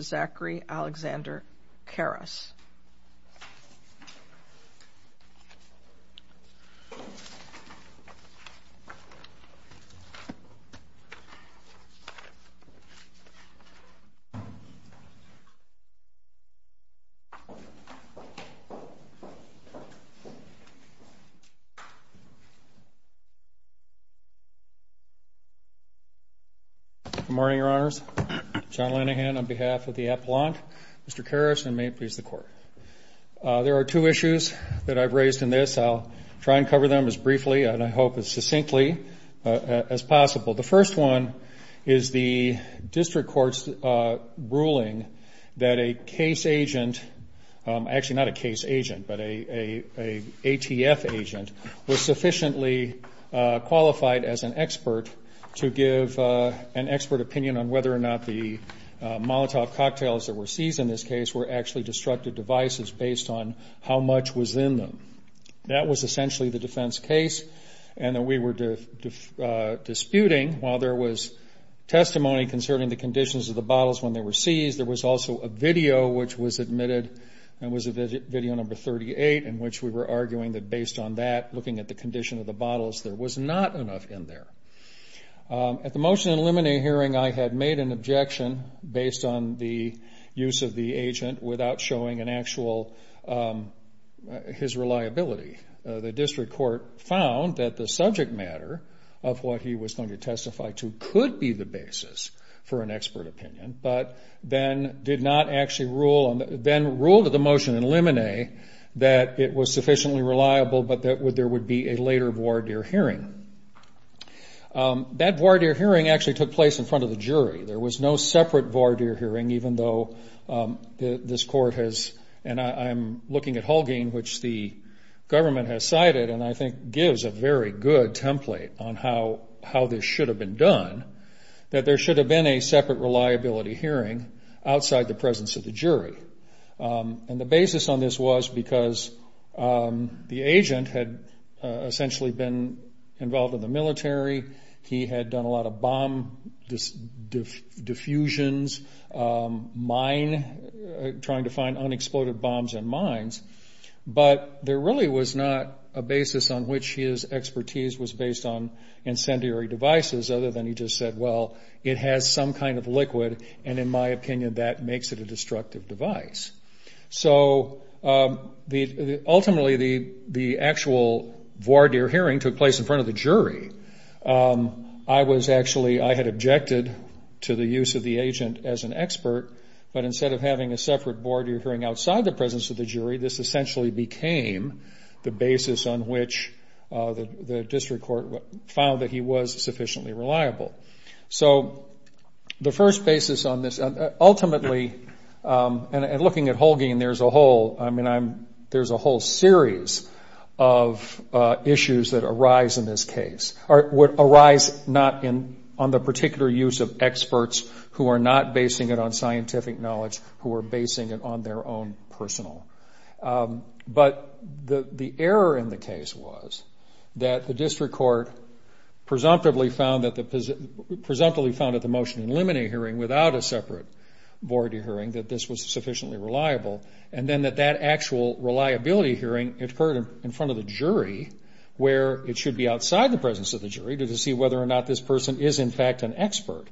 Zachary Alexander Karas. Good morning, Your Honors. John Lenihan on behalf of the Appellant, Mr. Karas, and may it please the Court. There are two issues that I've raised in this. I'll try and cover them as briefly and I hope as succinctly as possible. The first one is the district court's ruling that a case agent, actually not a case agent, but an ATF agent, was sufficiently qualified as an expert to give an expert opinion on whether or not the Molotov cocktails that were seized in this case were actually destructive devices based on how much was in them. That was essentially the defense case, and we were disputing while there was testimony concerning the conditions of the bottles when they were seized, there was also a video which was admitted and was video number 38 in which we were arguing that based on that, looking at the condition of the bottles, there was not enough in there. At the motion in the limine hearing, I had made an objection based on the use of the agent without showing an actual, his reliability. The district court found that the subject matter of what he was going to testify to could be the basis for an expert opinion, but then ruled at the motion in limine that it was sufficiently reliable but that there would be a later voir dire hearing. That voir dire hearing actually took place in front of the jury. There was no separate voir dire hearing, even though this court has, and I'm looking at Hulging, which the government has cited and I think gives a very good template on how this should have been done, that there should have been a separate reliability hearing outside the presence of the jury. And the basis on this was because the agent had essentially been involved in the military. He had done a lot of bomb diffusions, mine, trying to find unexploded bombs in mines, but there really was not a basis on which his expertise was based on incendiary devices other than he just said, well, it has some kind of liquid, and in my opinion that makes it a destructive device. So ultimately the actual voir dire hearing took place in front of the jury. I was actually, I had objected to the use of the agent as an expert, but instead of having a separate voir dire hearing outside the presence of the jury, this essentially became the basis on which the district court found that he was sufficiently reliable. So the first basis on this, ultimately, and looking at Hulging, there's a whole, I mean, there's a whole series of issues that arise in this case, or would arise not on the particular use of experts who are not basing it on scientific knowledge, who are basing it on their own personal. But the error in the case was that the district court presumptively found that the motion in limine hearing without a separate voir dire hearing that this was sufficiently reliable, and then that that actual reliability hearing occurred in front of the jury, where it should be outside the presence of the jury to see whether or not this person is in fact an expert.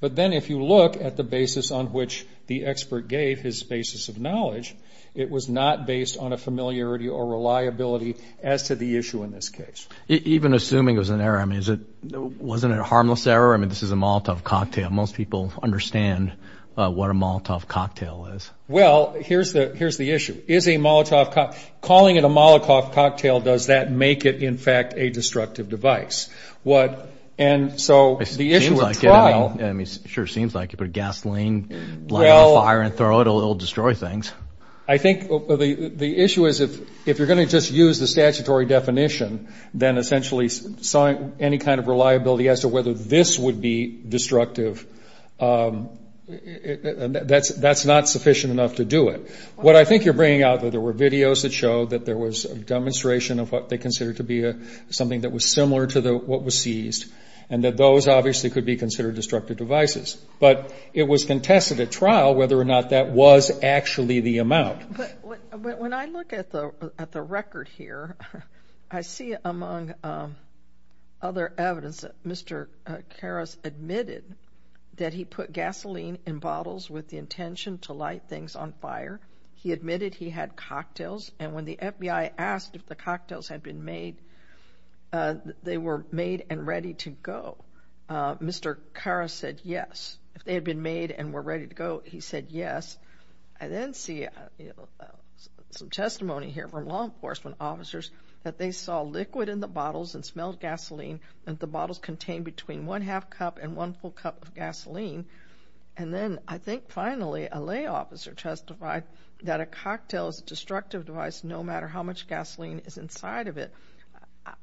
But then if you look at the basis on which the expert gave his basis of knowledge, it was not based on a familiarity or reliability as to the issue in this case. Even assuming it was an error, I mean, wasn't it a harmless error? I mean, this is a Molotov cocktail. Most people understand what a Molotov cocktail is. Well, here's the issue. Is a Molotov cocktail, calling it a Molotov cocktail, does that make it, in fact, a destructive device? And so the issue with trying. It sure seems like it. You put gasoline, light a fire and throw it, it will destroy things. I think the issue is if you're going to just use the statutory definition, then essentially any kind of reliability as to whether this would be destructive, that's not sufficient enough to do it. What I think you're bringing out, though, there were videos that show that there was a demonstration of what they considered to be something that was similar to what was seized, and that those obviously could be considered destructive devices. But it was contested at trial whether or not that was actually the amount. But when I look at the record here, I see among other evidence that Mr. Karras admitted that he put gasoline in bottles with the intention to light things on fire. He admitted he had cocktails. And when the FBI asked if the cocktails had been made, they were made and ready to go. Mr. Karras said yes. If they had been made and were ready to go, he said yes. I then see some testimony here from law enforcement officers that they saw liquid in the bottles and smelled gasoline, and the bottles contained between one half cup and one full cup of gasoline. And then I think finally a lay officer testified that a cocktail is a destructive device no matter how much gasoline is inside of it.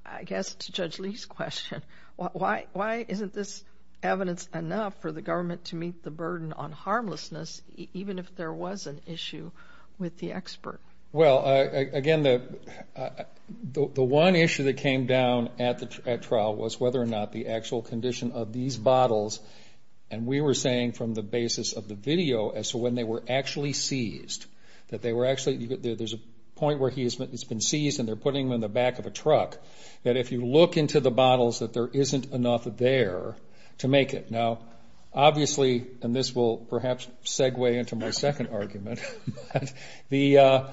I guess to Judge Lee's question, why isn't this evidence enough for the government to meet the burden on harmlessness, even if there was an issue with the expert? Well, again, the one issue that came down at trial was whether or not the actual condition of these bottles, and we were saying from the basis of the video as to when they were actually seized, that there's a point where it's been seized and they're putting them in the back of a truck, that if you look into the bottles that there isn't enough there to make it. Now, obviously, and this will perhaps segue into my second argument, the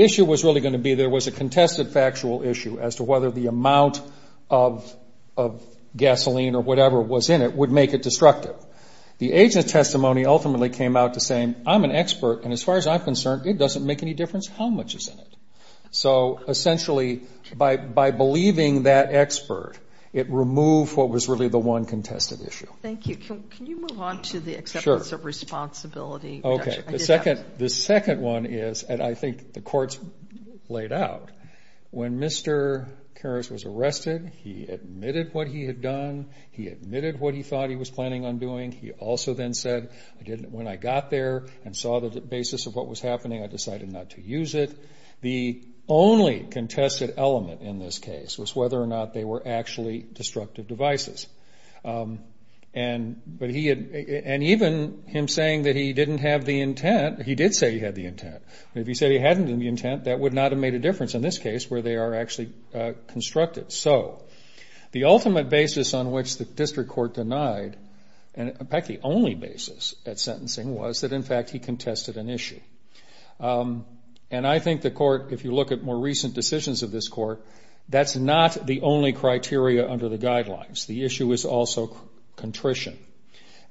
issue was really going to be there was a contested factual issue as to whether the amount of gasoline or whatever was in it would make it destructive. The agent's testimony ultimately came out to saying, I'm an expert, and as far as I'm concerned, it doesn't make any difference how much is in it. So essentially by believing that expert, it removed what was really the one contested issue. Thank you. Can you move on to the acceptance of responsibility? Okay. The second one is, and I think the Court's laid out, when Mr. Karras was arrested, he admitted what he had done. He admitted what he thought he was planning on doing. He also then said, when I got there and saw the basis of what was happening, I decided not to use it. The only contested element in this case was whether or not they were actually destructive devices. And even him saying that he didn't have the intent, he did say he had the intent. If he said he hadn't had the intent, that would not have made a difference in this case, where they are actually constructed. So the ultimate basis on which the District Court denied, and in fact the only basis at sentencing was that in fact he contested an issue. And I think the Court, if you look at more recent decisions of this Court, that's not the only criteria under the guidelines. The issue is also contrition.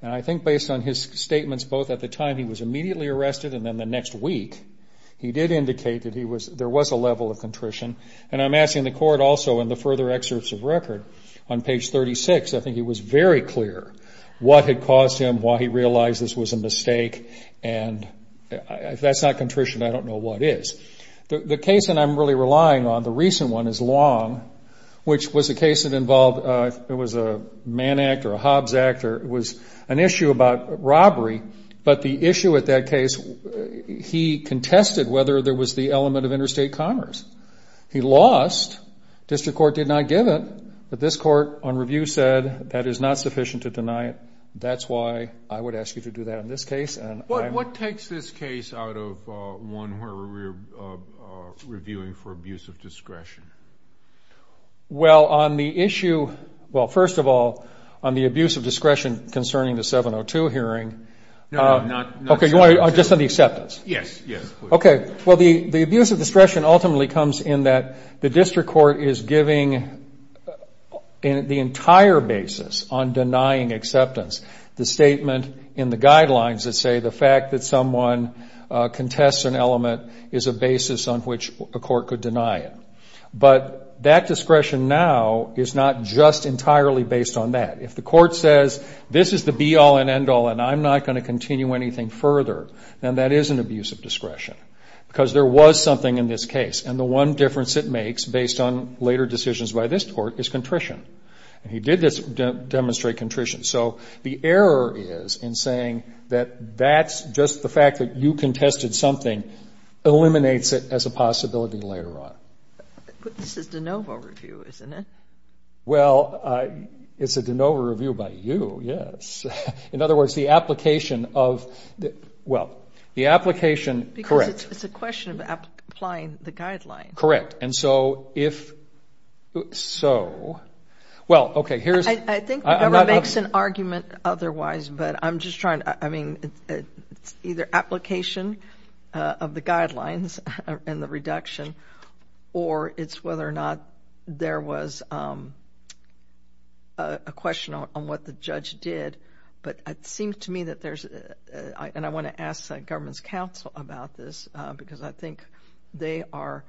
And I think based on his statements both at the time he was immediately arrested and then the next week, he did indicate that there was a level of contrition. And I'm asking the Court also in the further excerpts of record, on page 36, I think it was very clear what had caused him, why he realized this was a mistake. And if that's not contrition, I don't know what is. The case that I'm really relying on, the recent one, is Long, which was a case that involved, it was a Mann Act or a Hobbs Act, or it was an issue about robbery. But the issue at that case, he contested whether there was the element of interstate commerce. He lost. District Court did not give it. But this Court on review said that is not sufficient to deny it. That's why I would ask you to do that on this case. What takes this case out of one where we're reviewing for abuse of discretion? Well, on the issue, well, first of all, on the abuse of discretion concerning the 702 hearing. No, not 702. Okay, just on the acceptance. Yes, yes, please. Okay. Well, the abuse of discretion ultimately comes in that the District Court is giving the entire basis on denying acceptance. The statement in the guidelines that say the fact that someone contests an element is a basis on which a court could deny it. But that discretion now is not just entirely based on that. If the Court says this is the be-all and end-all and I'm not going to continue anything further, then that is an abuse of discretion because there was something in this case. And the one difference it makes based on later decisions by this Court is contrition. And he did demonstrate contrition. So the error is in saying that that's just the fact that you contested something eliminates it as a possibility later on. This is de novo review, isn't it? Well, it's a de novo review by you, yes. In other words, the application of the, well, the application, correct. Because it's a question of applying the guidelines. Correct. And so if so, well, okay, here's. I think Deborah makes an argument otherwise, but I'm just trying to, I mean, it's either application of the guidelines and the reduction or it's whether or not there was a question on what the judge did. But it seems to me that there's, and I want to ask the government's counsel about this because I think they are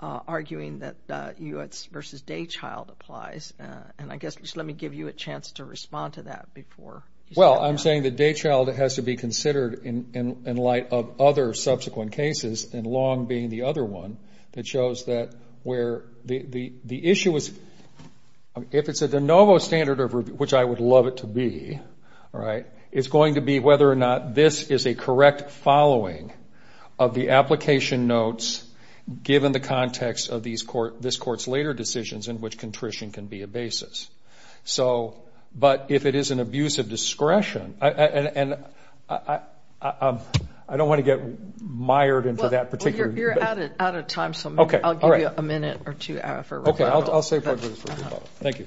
arguing that U.S. v. Daychild applies. And I guess just let me give you a chance to respond to that before. Well, I'm saying that Daychild has to be considered in light of other subsequent cases, and Long being the other one that shows that where the issue is, if it's a de novo standard, which I would love it to be, right, it's going to be whether or not this is a correct following of the application notes given the context of this court's later decisions in which contrition can be a basis. But if it is an abuse of discretion, and I don't want to get mired into that particular. Well, you're out of time, so I'll give you a minute or two for rebuttal. Okay, I'll save it for rebuttal. Thank you.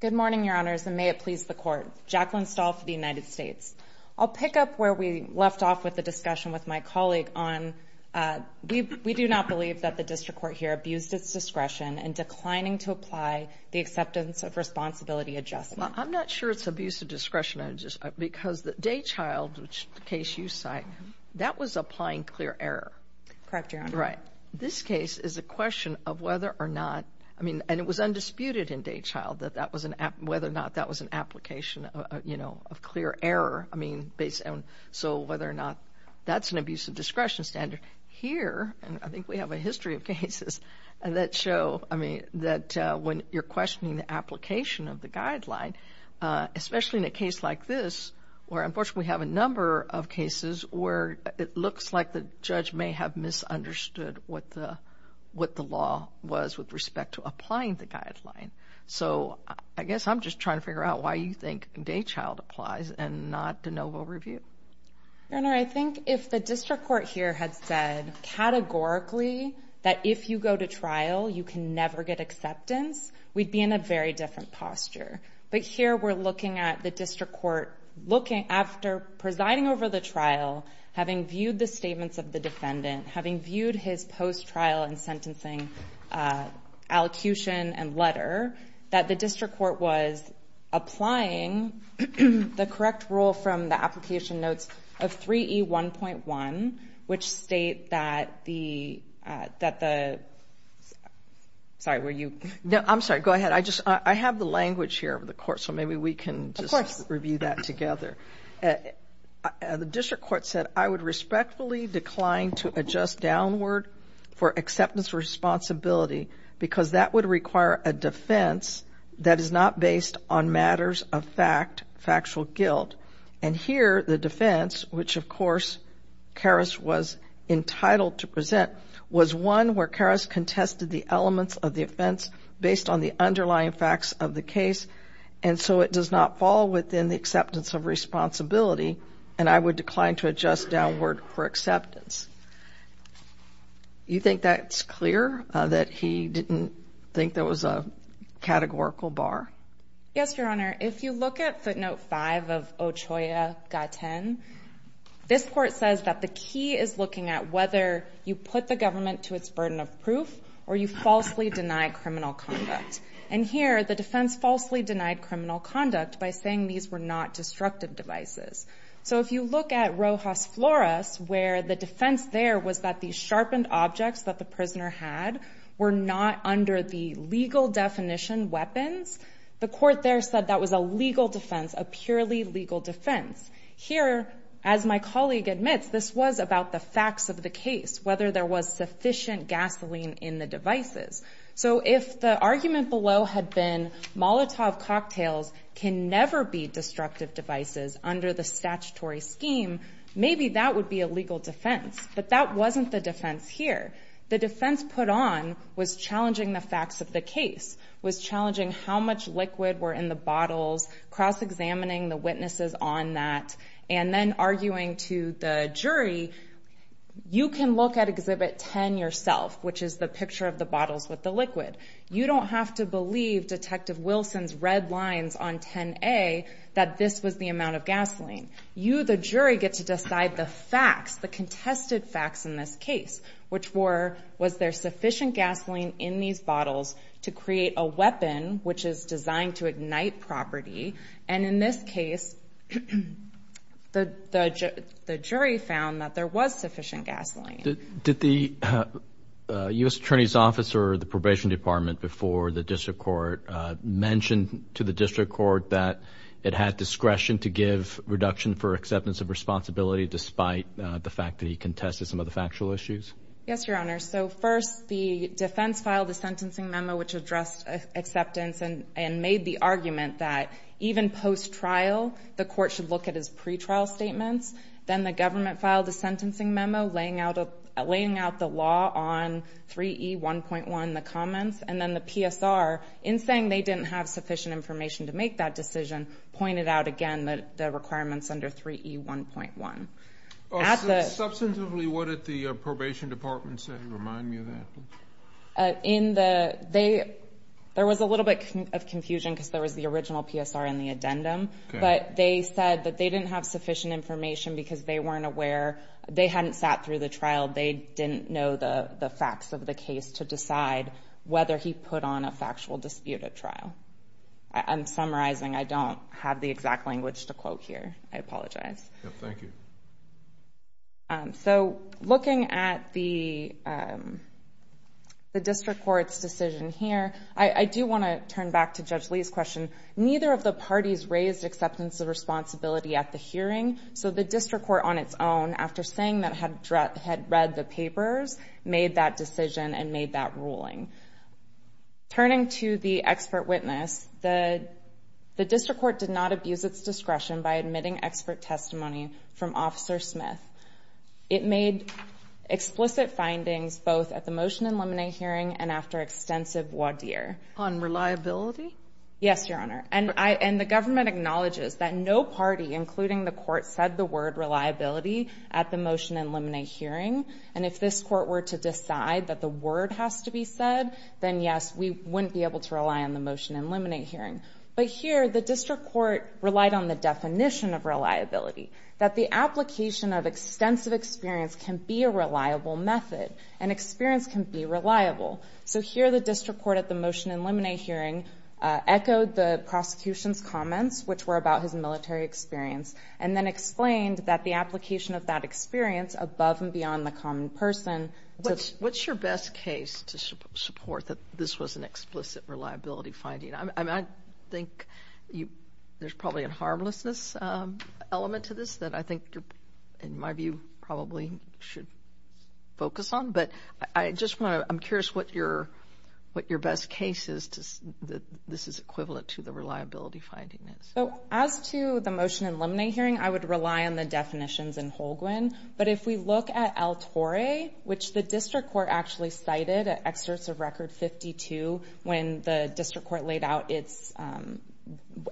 Good morning, Your Honors, and may it please the Court. Jacqueline Stahl for the United States. I'll pick up where we left off with the discussion with my colleague on we do not believe that the district court here abused its discretion in declining to apply the acceptance of responsibility adjustment. Well, I'm not sure it's abuse of discretion because Daychild, which is the case you cite, that was applying clear error. Correct, Your Honor. Right. This case is a question of whether or not, I mean, and it was undisputed in Daychild, whether or not that was an application of clear error, I mean, so whether or not that's an abuse of discretion standard. Here, and I think we have a history of cases that show, I mean, that when you're questioning the application of the guideline, especially in a case like this where unfortunately we have a number of cases where it looks like the judge may have misunderstood what the law was with respect to applying the guideline. So I guess I'm just trying to figure out why you think Daychild applies and not de novo review. Your Honor, I think if the district court here had said categorically that if you go to trial you can never get acceptance, we'd be in a very different posture. But here we're looking at the district court after presiding over the trial, having viewed the statements of the defendant, having viewed his post-trial and sentencing allocution and letter, that the district court was applying the correct rule from the application notes of 3E1.1, which state that the, sorry, were you? No, I'm sorry. Go ahead. I have the language here of the court, so maybe we can just review that together. Of course. The district court said, I would respectfully decline to adjust downward for acceptance responsibility because that would require a defense that is not based on matters of fact, factual guilt. And here the defense, which, of course, Karras was entitled to present was one where Karras contested the elements of the offense based on the underlying facts of the case, and so it does not fall within the acceptance of responsibility, and I would decline to adjust downward for acceptance. You think that's clear, that he didn't think there was a categorical bar? Yes, Your Honor. If you look at footnote 5 of Ochoa Gaten, this court says that the key is looking at whether you put the government to its burden of proof or you falsely deny criminal conduct. And here the defense falsely denied criminal conduct by saying these were not destructive devices. So if you look at Rojas Flores, where the defense there was that the sharpened objects that the prisoner had were not under the legal definition weapons, the court there said that was a legal defense, a purely legal defense. Here, as my colleague admits, this was about the facts of the case, whether there was sufficient gasoline in the devices. So if the argument below had been Molotov cocktails can never be destructive devices under the statutory scheme, maybe that would be a legal defense. But that wasn't the defense here. The defense put on was challenging the facts of the case, was challenging how much liquid were in the bottles, cross-examining the witnesses on that, and then arguing to the jury, you can look at Exhibit 10 yourself, which is the picture of the bottles with the liquid. You don't have to believe Detective Wilson's red lines on 10A that this was the amount of gasoline. You, the jury, get to decide the facts, the contested facts in this case, which were was there sufficient gasoline in these bottles to create a weapon which is designed to ignite property. And in this case, the jury found that there was sufficient gasoline. Did the U.S. Attorney's Office or the Probation Department before the District Court mention to the District Court that it had discretion to give reduction for acceptance of responsibility despite the fact that he contested some of the factual issues? Yes, Your Honor. So first, the defense filed a sentencing memo which addressed acceptance and made the argument that even post-trial, the court should look at his pretrial statements. Then the government filed a sentencing memo laying out the law on 3E1.1, the comments. And then the PSR, in saying they didn't have sufficient information to make that decision, pointed out again the requirements under 3E1.1. Substantively, what did the Probation Department say? Remind me of that. There was a little bit of confusion because there was the original PSR in the addendum. But they said that they didn't have sufficient information because they weren't aware. They hadn't sat through the trial. They didn't know the facts of the case to decide whether he put on a factual disputed trial. I'm summarizing. I don't have the exact language to quote here. I apologize. Thank you. So looking at the district court's decision here, I do want to turn back to Judge Lee's question. Neither of the parties raised acceptance of responsibility at the hearing. So the district court on its own, after saying that it had read the papers, made that decision and made that ruling. Turning to the expert witness, the district court did not abuse its discretion by admitting expert testimony from Officer Smith. It made explicit findings both at the motion and liminate hearing and after extensive voir dire. On reliability? Yes, Your Honor. And the government acknowledges that no party, including the court, said the word reliability at the motion and liminate hearing. And if this court were to decide that the word has to be said, then yes, we wouldn't be able to rely on the motion and liminate hearing. But here the district court relied on the definition of reliability, that the application of extensive experience can be a reliable method and experience can be reliable. So here the district court at the motion and liminate hearing echoed the prosecution's comments, which were about his military experience, and then explained that the application of that experience above and beyond the common person. What's your best case to support that this was an explicit reliability finding? I think there's probably a harmlessness element to this that I think, in my view, probably should focus on. But I'm curious what your best case is that this is equivalent to the reliability finding. As to the motion and liminate hearing, I would rely on the definitions in Holguin. But if we look at El Torre, which the district court actually cited at excerpts of Record 52 when the court laid out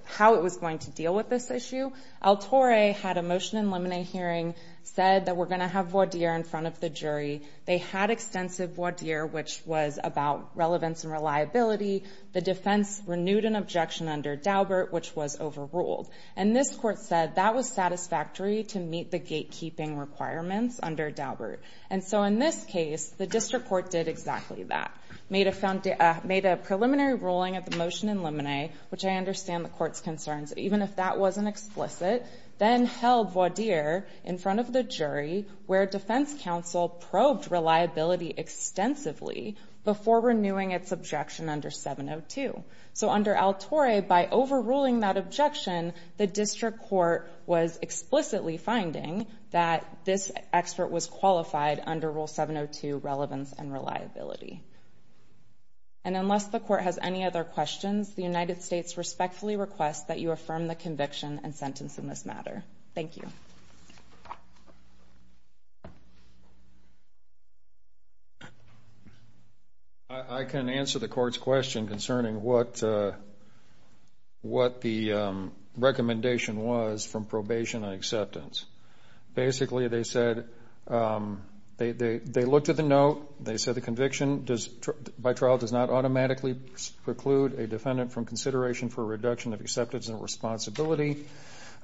how it was going to deal with this issue, El Torre had a motion and liminate hearing, said that we're going to have voir dire in front of the jury. They had extensive voir dire, which was about relevance and reliability. The defense renewed an objection under Daubert, which was overruled. And this court said that was satisfactory to meet the gatekeeping requirements under Daubert. And so in this case, the district court did exactly that, made a preliminary ruling of the motion and liminate, which I understand the court's concerns, even if that wasn't explicit, then held voir dire in front of the jury where defense counsel probed reliability extensively before renewing its objection under 702. So under El Torre, by overruling that objection, the district court was explicitly finding that this expert was qualified under Rule 702, relevance and reliability. And unless the court has any other questions, the United States respectfully requests that you affirm the conviction and sentence in this matter. Thank you. I can answer the court's question concerning what the recommendation was from probation and acceptance. Basically, they said they looked at the note, they said the conviction by trial does not automatically preclude a defendant from consideration for reduction of acceptance and responsibility.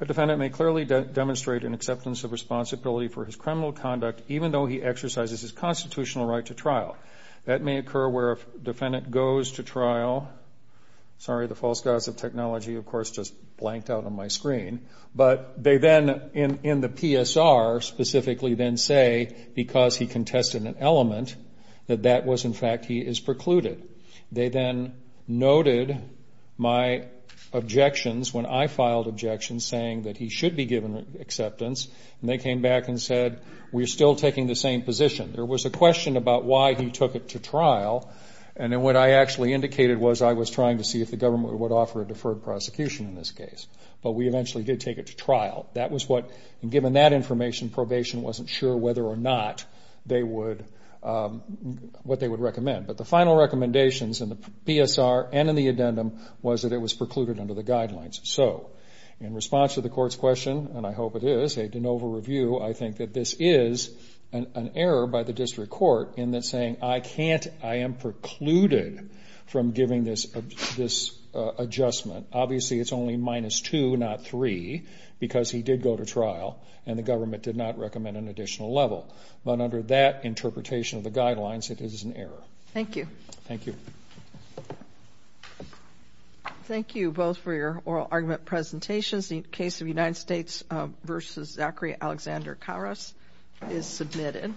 A defendant may clearly demonstrate an acceptance of responsibility for his criminal conduct, even though he exercises his constitutional right to trial. That may occur where a defendant goes to trial. Sorry, the false gossip technology, of course, just blanked out on my screen. But they then in the PSR specifically then say because he contested an element that that was in fact he is precluded. They then noted my objections when I filed objections saying that he should be given acceptance, and they came back and said, we're still taking the same position. There was a question about why he took it to trial, and then what I actually indicated was I was trying to see if the government would offer a deferred prosecution in this case. But we eventually did take it to trial. That was what, and given that information, probation wasn't sure whether or not they would, what they would recommend. But the final recommendations in the PSR and in the addendum was that it was precluded under the guidelines. So in response to the court's question, and I hope it is, a de novo review, I think that this is an error by the district court in that saying I can't, I am precluded from giving this adjustment. Obviously it's only minus two, not three, because he did go to trial, and the government did not recommend an additional level. But under that interpretation of the guidelines, it is an error. Thank you. Thank you. Thank you both for your oral argument presentations. The case of United States v. Zachary Alexander Karras is submitted.